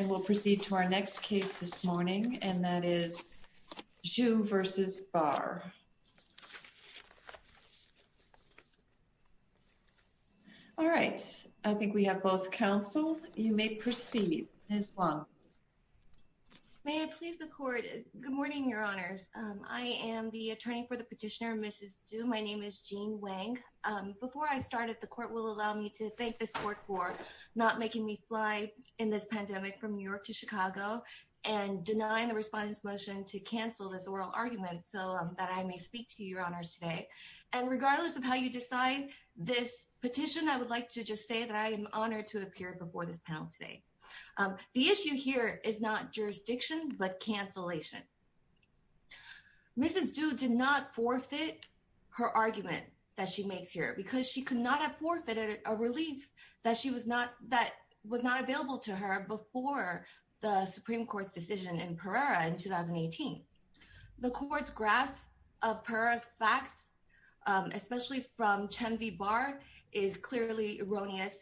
We'll proceed to our next case this morning, and that is Zhu v. Barr. All right, I think we have both counseled. You may proceed, Ms. Huang. May I please the court? Good morning, Your Honors. I am the attorney for the petitioner, Mrs. Zhu. My name is Jean Wang. Before I start, the court will allow me to thank this court for not making me fly in this pandemic from New York to Chicago and denying the respondent's motion to cancel this oral argument so that I may speak to Your Honors today. And regardless of how you decide this petition, I would like to just say that I am honored to appear before this panel today. The issue here is not jurisdiction but cancellation. Mrs. Zhu did not forfeit her that was not available to her before the Supreme Court's decision in Pereira in 2018. The court's grasp of Pereira's facts, especially from Chen v. Barr, is clearly erroneous.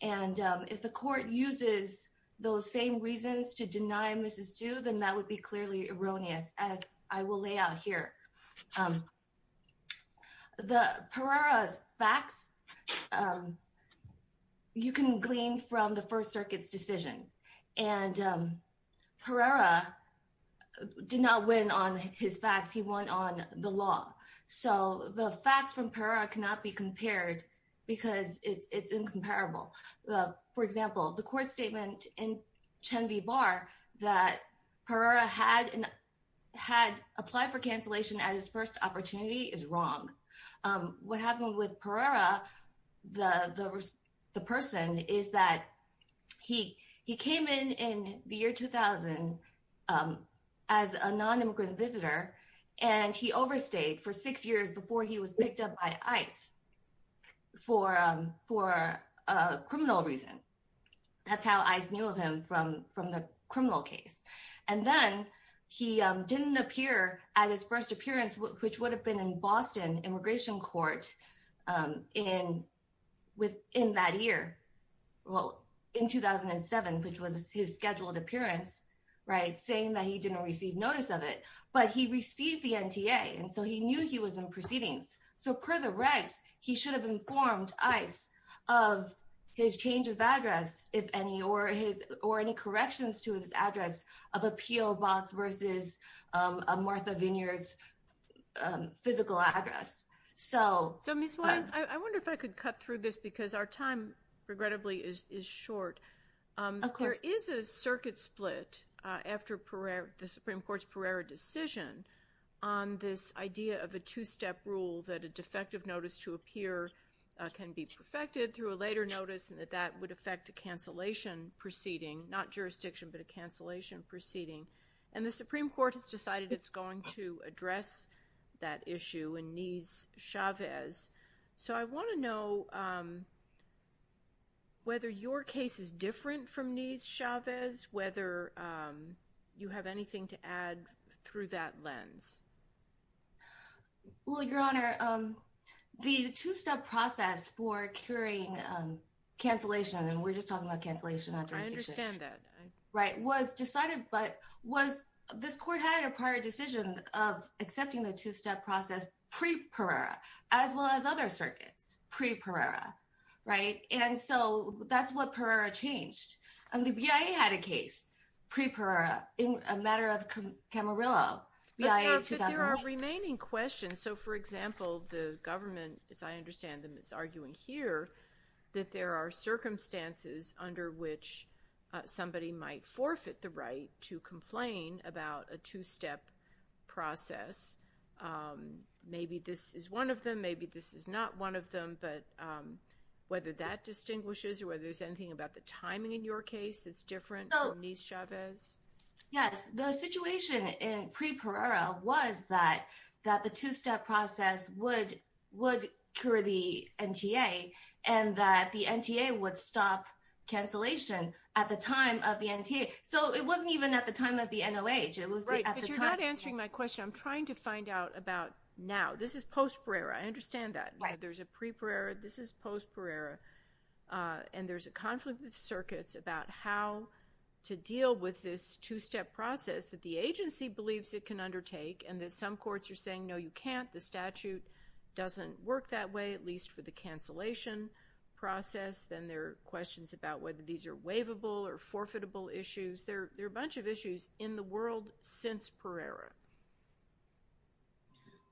And if the court uses those same reasons to deny Mrs. Zhu, then that would be clearly erroneous, as I will lay out here. The Pereira's facts, you can glean from the First Circuit's decision. And Pereira did not win on his facts. He won on the law. So the facts from Pereira cannot be compared because it's incomparable. For example, the court statement in Chen v. Barr that Pereira had applied for cancellation at his first opportunity is wrong. What happened with Pereira, the person, is that he came in in the year 2000 as a nonimmigrant visitor, and he overstayed for six years before he was picked up by ICE for a criminal reason. That's how ICE knew of him, from the criminal case. And then he didn't appear at his first appearance, which would have been in Boston Immigration Court in that year, well, in 2007, which was his scheduled appearance, saying that he didn't receive notice of it. But he received the NTA, and so he knew he was in proceedings. So per the regs, he should have informed ICE of his change of address, if any, or any corrections to his address of a P.O. Box versus a Martha Vineers physical address. So... So Ms. Wang, I wonder if I could cut through this because our time, regrettably, is short. Of course. There is a circuit split after the Supreme Court's Pereira decision on this idea of a two-step rule that a defective notice to appear can be perfected through a later notice, and that that would affect a cancellation proceeding, not jurisdiction, but a cancellation proceeding. And the Supreme Court has decided it's going to address that issue in Nies-Chavez. So I want to know whether your case is different from Nies-Chavez, whether you have anything to add through that lens. Well, Your Honor, the two-step process for curing cancellation, and we're just talking about cancellation, not jurisdiction. I understand that. Right. Was decided, but was... This Court had a prior decision of accepting the two-step process pre-Pereira, as well as other circuits pre-Pereira, right? And so that's what Pereira changed. And the BIA had a case pre-Pereira in a matter of Camarillo, BIA 2008. But there are remaining questions. So for example, the government, as I understand them, is arguing here that there are circumstances under which somebody might forfeit the right to complain about a two-step process. Maybe this is one of them, maybe this is not one of them, but whether that distinguishes or whether there's anything about the timing in your case that's different from Nies-Chavez? Yes. The situation in pre-Pereira was that the two-step process would cure the NTA, and that the NTA would stop cancellation at the time of the NTA. So it wasn't even at the time of the NOH. It was at the time... Right, but you're not answering my question. I'm trying to find out about now. This is post-Pereira. I understand that. Right. There's a pre-Pereira, this is post-Pereira, and there's a conflict of circuits about how to deal with this two-step process that the agency believes it can undertake, and that some courts are saying, no, you can't. The statute doesn't work that way, at least for the cancellation process. Then there are questions about whether these are waivable or forfeitable issues. There are a bunch of issues in the world since Pereira.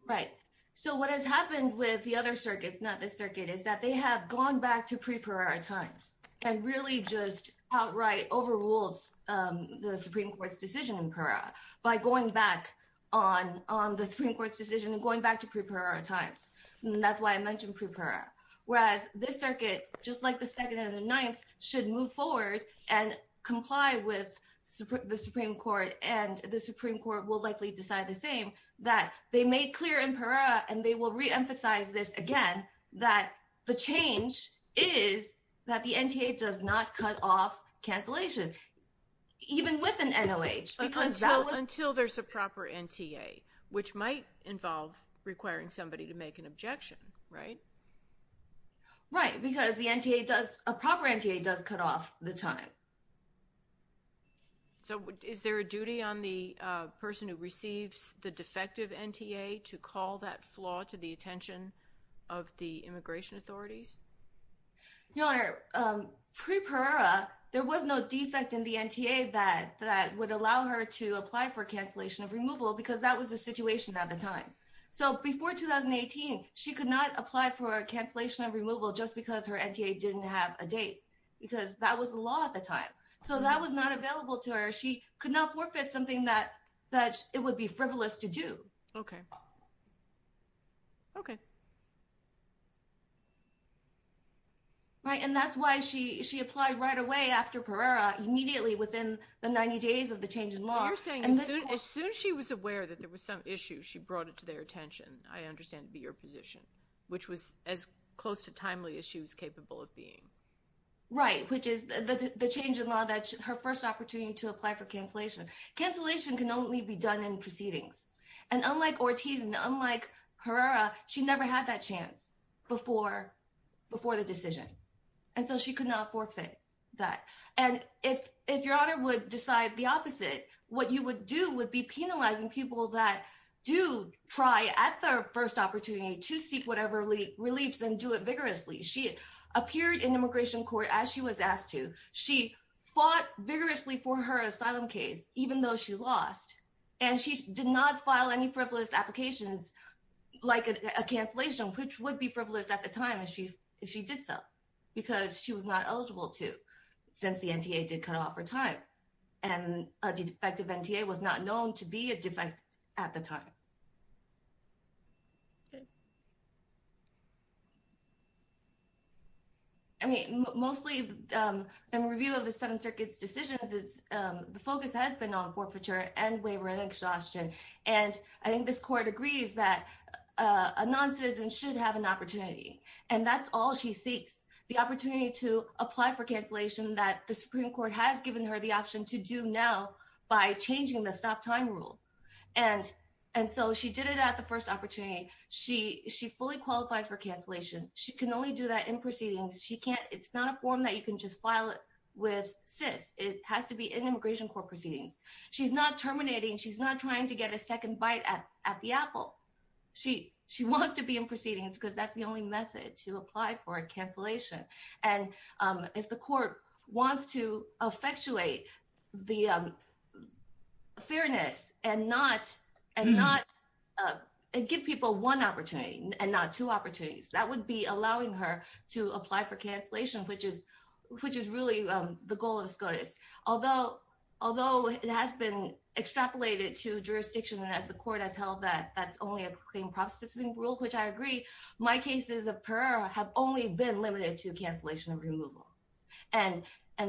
Right. So what has happened with the other circuits, not this circuit, is that they have gone back to pre-Pereira times, and really just outright overrules the Supreme Court's decision in Pereira by going back on the Supreme Court's decision and going back to pre-Pereira times. That's why I mentioned pre-Pereira. Whereas this circuit, just like the second and the ninth, should move forward and comply with the Supreme Court, and the Supreme Court will likely decide the same, that they made clear in Pereira, and they will reemphasize this again, that the change is that the NTA does not cut off cancellation, even with an NOH, because that was- Until there's a proper NTA, which might involve requiring somebody to make an objection, right? Right, because a proper NTA does cut off the time. Right. So is there a duty on the person who receives the defective NTA to call that flaw to the attention of the immigration authorities? Your Honor, pre-Pereira, there was no defect in the NTA that would allow her to apply for cancellation of removal, because that was the situation at the time. So before 2018, she could not apply for a cancellation of removal just because her NTA didn't have a date, because that was the law at the time. So that was not available to her. She could not forfeit something that it would be frivolous to do. Okay. Right, and that's why she applied right away after Pereira, immediately within the 90 days of the change in law. So you're saying as soon as she was aware that there was some issue, she brought it to their attention, I understand, to be her position, which was as close to timely as she was capable of being. Right, which is the change in law that her first opportunity to apply for cancellation. Cancellation can only be done in proceedings. And unlike Ortiz and unlike Pereira, she never had that chance before the decision. And so she could not forfeit that. And if Your Honor would decide the opposite, what you would do would be penalizing people that do try at their first opportunity to seek whatever reliefs and do it vigorously. She appeared in immigration court as she was asked to. She fought vigorously for her asylum case, even though she lost. And she did not file any frivolous applications like a cancellation, which would be frivolous at the time if she did so, because she was not eligible to, since the NTA did cut off her time. And a defective NTA was not known to be a defect at the time. Okay. I mean, mostly in review of the Seventh Circuit's decisions, the focus has been on forfeiture and waiver and exhaustion. And I think this court agrees that a non-citizen should have an opportunity. And that's all she seeks, the opportunity to apply for cancellation that the Supreme Court has given her the option to do now by changing the stop time rule. And so she did it at the first opportunity. She fully qualifies for cancellation. She can only do that in proceedings. She can't, it's not a form that you can just file it with SIS. It has to be in immigration court proceedings. She's not terminating. She's not trying to get a second bite at the apple. She wants to be in proceedings because that's the only method to apply for a cancellation. And if the court wants to effectuate the fairness and give people one opportunity and not two opportunities, that would be allowing her to apply for cancellation, which is really the goal of SCOTUS. Although it has been extrapolated to jurisdiction and as the court has held that that's only a claim processing rule, which I agree, my cases have only been limited to cancellation and removal. And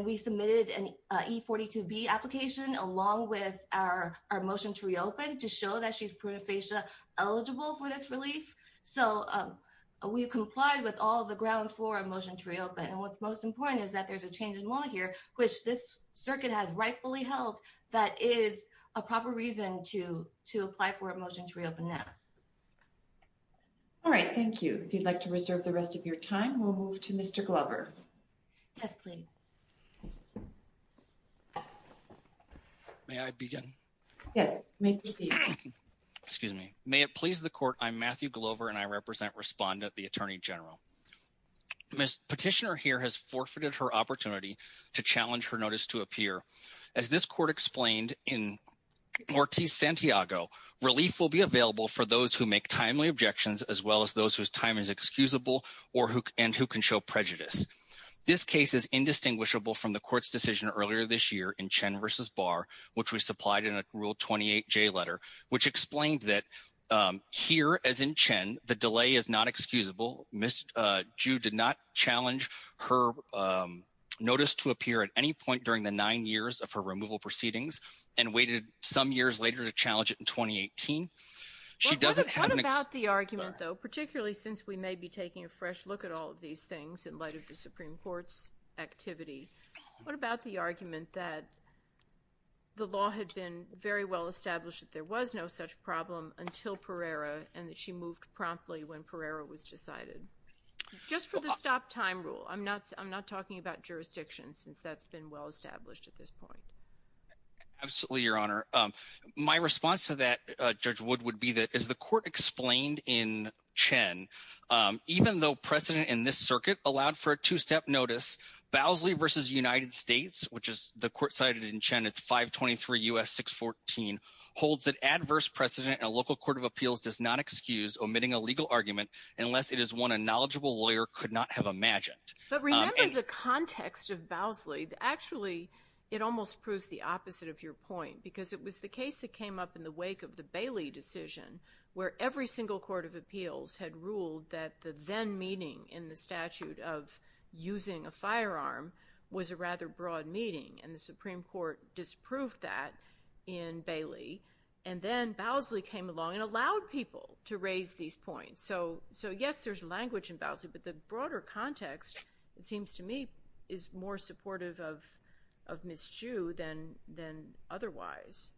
we submitted an E42B application along with our motion to reopen to show that she's prune facia eligible for this relief. So we complied with all the grounds for a motion to reopen. And what's most important is that there's a change in law here, which this to apply for a motion to reopen that. All right. Thank you. If you'd like to reserve the rest of your time, we'll move to Mr. Glover. Yes, please. May I begin? Yes, you may proceed. Excuse me. May it please the court. I'm Matthew Glover and I represent respondent, the attorney general. Ms. Petitioner here has forfeited her opportunity to challenge her notice to appear. As this court explained in Ortiz Santiago, relief will be available for those who make timely objections as well as those whose time is excusable and who can show prejudice. This case is indistinguishable from the court's decision earlier this year in Chen versus Barr, which we supplied in a rule 28J letter, which explained that here as in Chen, the delay is not excusable. Jude did not challenge her notice to appear at any point during the nine years of her removal proceedings and waited some years later to challenge it in 2018. What about the argument though, particularly since we may be taking a fresh look at all of these things in light of the Supreme Court's activity, what about the argument that the law had been very well established that there was no such problem until Pereira and that she moved promptly when Pereira was decided? Just for the stop time rule, I'm not talking about jurisdiction since that's been well established at this point. Absolutely, Your Honor. My response to that, Judge Wood, would be that as the court explained in Chen, even though precedent in this circuit allowed for a two-step notice, Bowsley versus United States, which is the court cited in Chen, it's 523 U.S. 614, holds that adverse precedent and a local court of appeals does not excuse omitting a legal argument unless it is one a knowledgeable lawyer could not have imagined. But remember the context of Bowsley. Actually, it almost proves the opposite of your point because it was the case that came up in the wake of the Bailey decision where every single court of appeals had ruled that the then meeting in the statute of using a firearm was a rather broad meeting and the Supreme Court disproved that in Bailey and then Bowsley came along and allowed people to raise these points. So yes, there's language in Bowsley, but the broader context, it seems to me, is more supportive of of Ms. Chu than otherwise.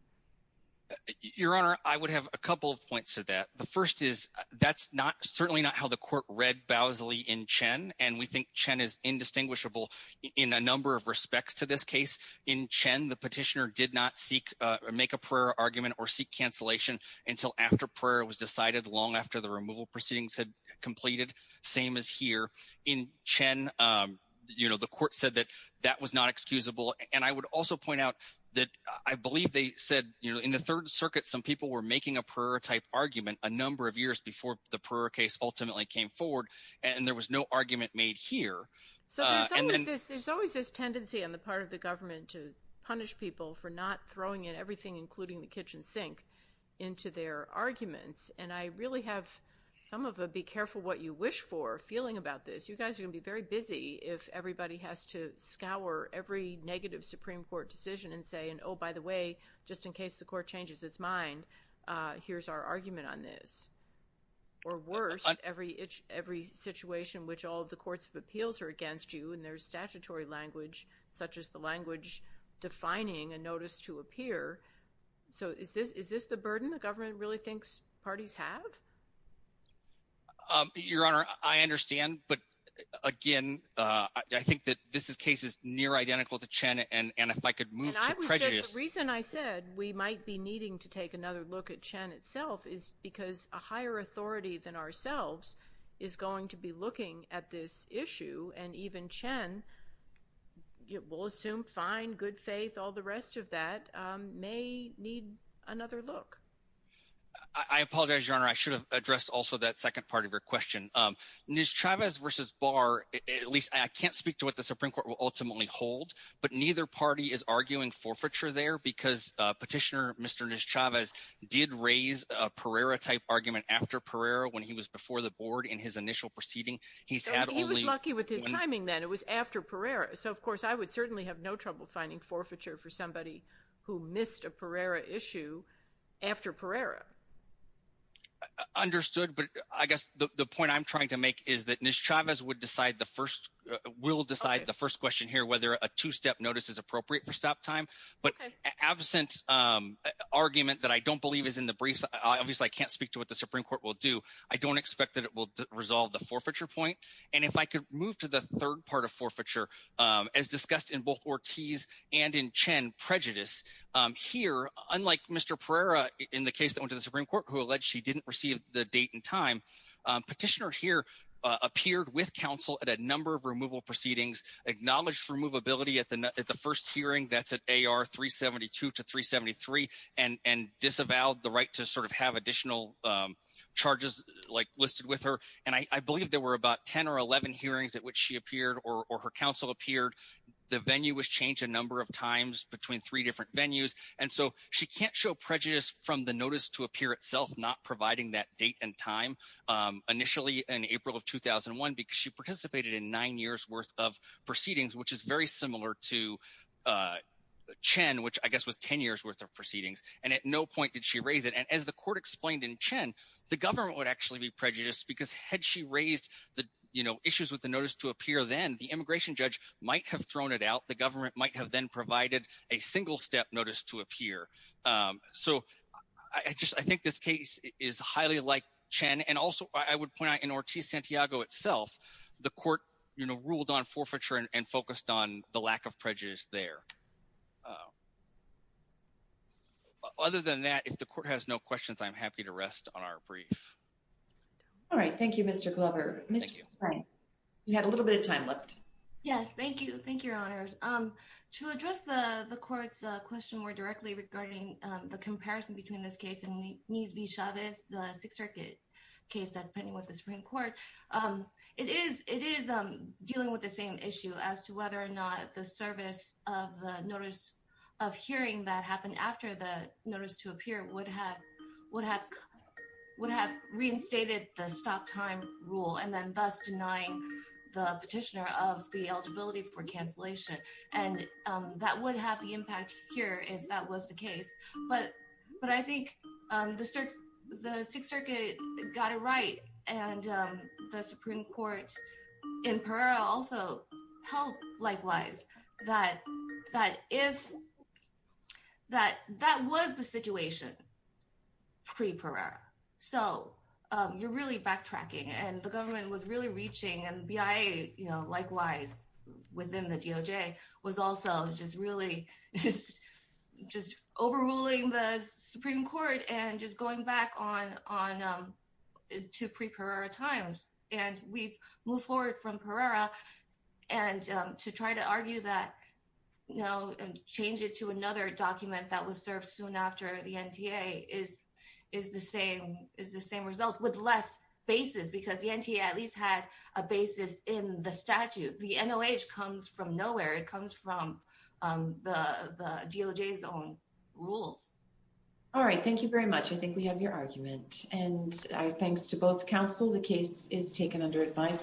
Your Honor, I would have a couple of points to that. The first is that's not certainly not how the court read Bowsley in Chen and we think Chen is indistinguishable in a number of respects to this case. In Chen, the petitioner did not seek or make a prayer argument or seek cancellation until after prayer was decided long after the removal proceedings had completed. Same as here in Chen, you know, the court said that that was not excusable and I would also point out that I believe they said, you know, in the Third Circuit, some people were making a prayer-type argument a number of years before the prayer case ultimately came forward and there was no argument made here. So there's always this tendency on the part of the government to punish people for not throwing in everything, including the kitchen sink, into their arguments and I really have some of a be careful what you wish for feeling about this. You guys are going to be very busy if everybody has to scour every negative Supreme Court decision and say, oh by the way, just in case the court changes its mind, here's our argument on this. Or worse, every situation which all of the courts of appeals are against you and there's statutory language such as the language defining a notice to appear. So is this the burden the government really thinks parties have? Your Honor, I understand but again, I think that this case is near identical to Chen and if I could move to prejudice. The reason I said we might be needing to take another look at Chen itself is because a higher authority than ourselves is going to be looking at this issue and even Chen, we'll assume fine, good faith, all the rest of that may need another look. I apologize, Your Honor. I should have addressed also that second part of your question. Ms. Chavez versus Barr, at least I can't speak to what the Supreme Court will ultimately hold, but neither party is arguing forfeiture there because Petitioner Mr. Chavez did raise a Pereira type argument after Pereira when he was before the board in his initial proceeding. He was lucky with his timing then. It was after Pereira. So of course, I would certainly have no trouble finding forfeiture for somebody who missed a Pereira issue after Pereira. Understood, but I guess the point I'm trying to make is that Ms. Chavez would decide the first, will decide the first question here whether a two-step notice is appropriate for stop time, but absent argument that I don't believe is in the briefs, obviously I can't speak to what the Supreme Court will do. I don't expect that it will resolve the forfeiture point and if I could move to the third part of forfeiture as discussed in both Ortiz and in Chen, prejudice. Here, unlike Mr. Pereira in the case that went to the Supreme Court who alleged she didn't receive the date and time, Petitioner here appeared with counsel at a number of removal proceedings, acknowledged removability at the first hearing that's at AR 372 to 373 and disavowed the right to sort of have additional charges like listed with her and I believe there were about 10 or 11 hearings at which she appeared or her counsel appeared. The venue was changed a number of times between three different venues and so she can't show prejudice from the notice to appear itself not providing that date and time initially in April of 2001 because she participated in nine years worth of proceedings which is very similar to Chen which I guess was 10 years worth of proceedings and at no point did she raise it and as the court explained in Chen, the government would actually be prejudiced because had she raised the you know issues with the notice to appear then the immigration judge might have thrown it out, the government might have then um so I just I think this case is highly like Chen and also I would point out in Ortiz Santiago itself the court you know ruled on forfeiture and focused on the lack of prejudice there. Other than that if the court has no questions I'm happy to rest on our brief. All right thank you Mr. Glover. You had a little bit of time left. Yes thank you, thank you your honors. To address the the court's question more directly regarding the comparison between this case and Nisbi Chavez, the Sixth Circuit case that's pending with the Supreme Court, it is dealing with the same issue as to whether or not the service of the notice of hearing that happened after the notice to appear would have would have reinstated the stop time rule and then thus denying the petitioner of the eligibility for cancellation and that would have the impact here if that was the case but but I think um the the Sixth Circuit got it right and um the Supreme Court in Pereira also held likewise that that if that that was the situation pre-Pereira so um you're really backtracking and the government was really reaching and BIA you know likewise within the DOJ was also just really just overruling the Supreme Court and just going back on on to pre-Pereira times and we've moved forward from Pereira and to try to argue that you know and change it to another document that was served soon after the NTA is is the same is the same result with less basis because the NTA at least had a basis in the statute the NOH comes from nowhere it comes from um the the DOJ's own rules all right thank you very much I think we have your argument and thanks to both counsel the case is taken under advisement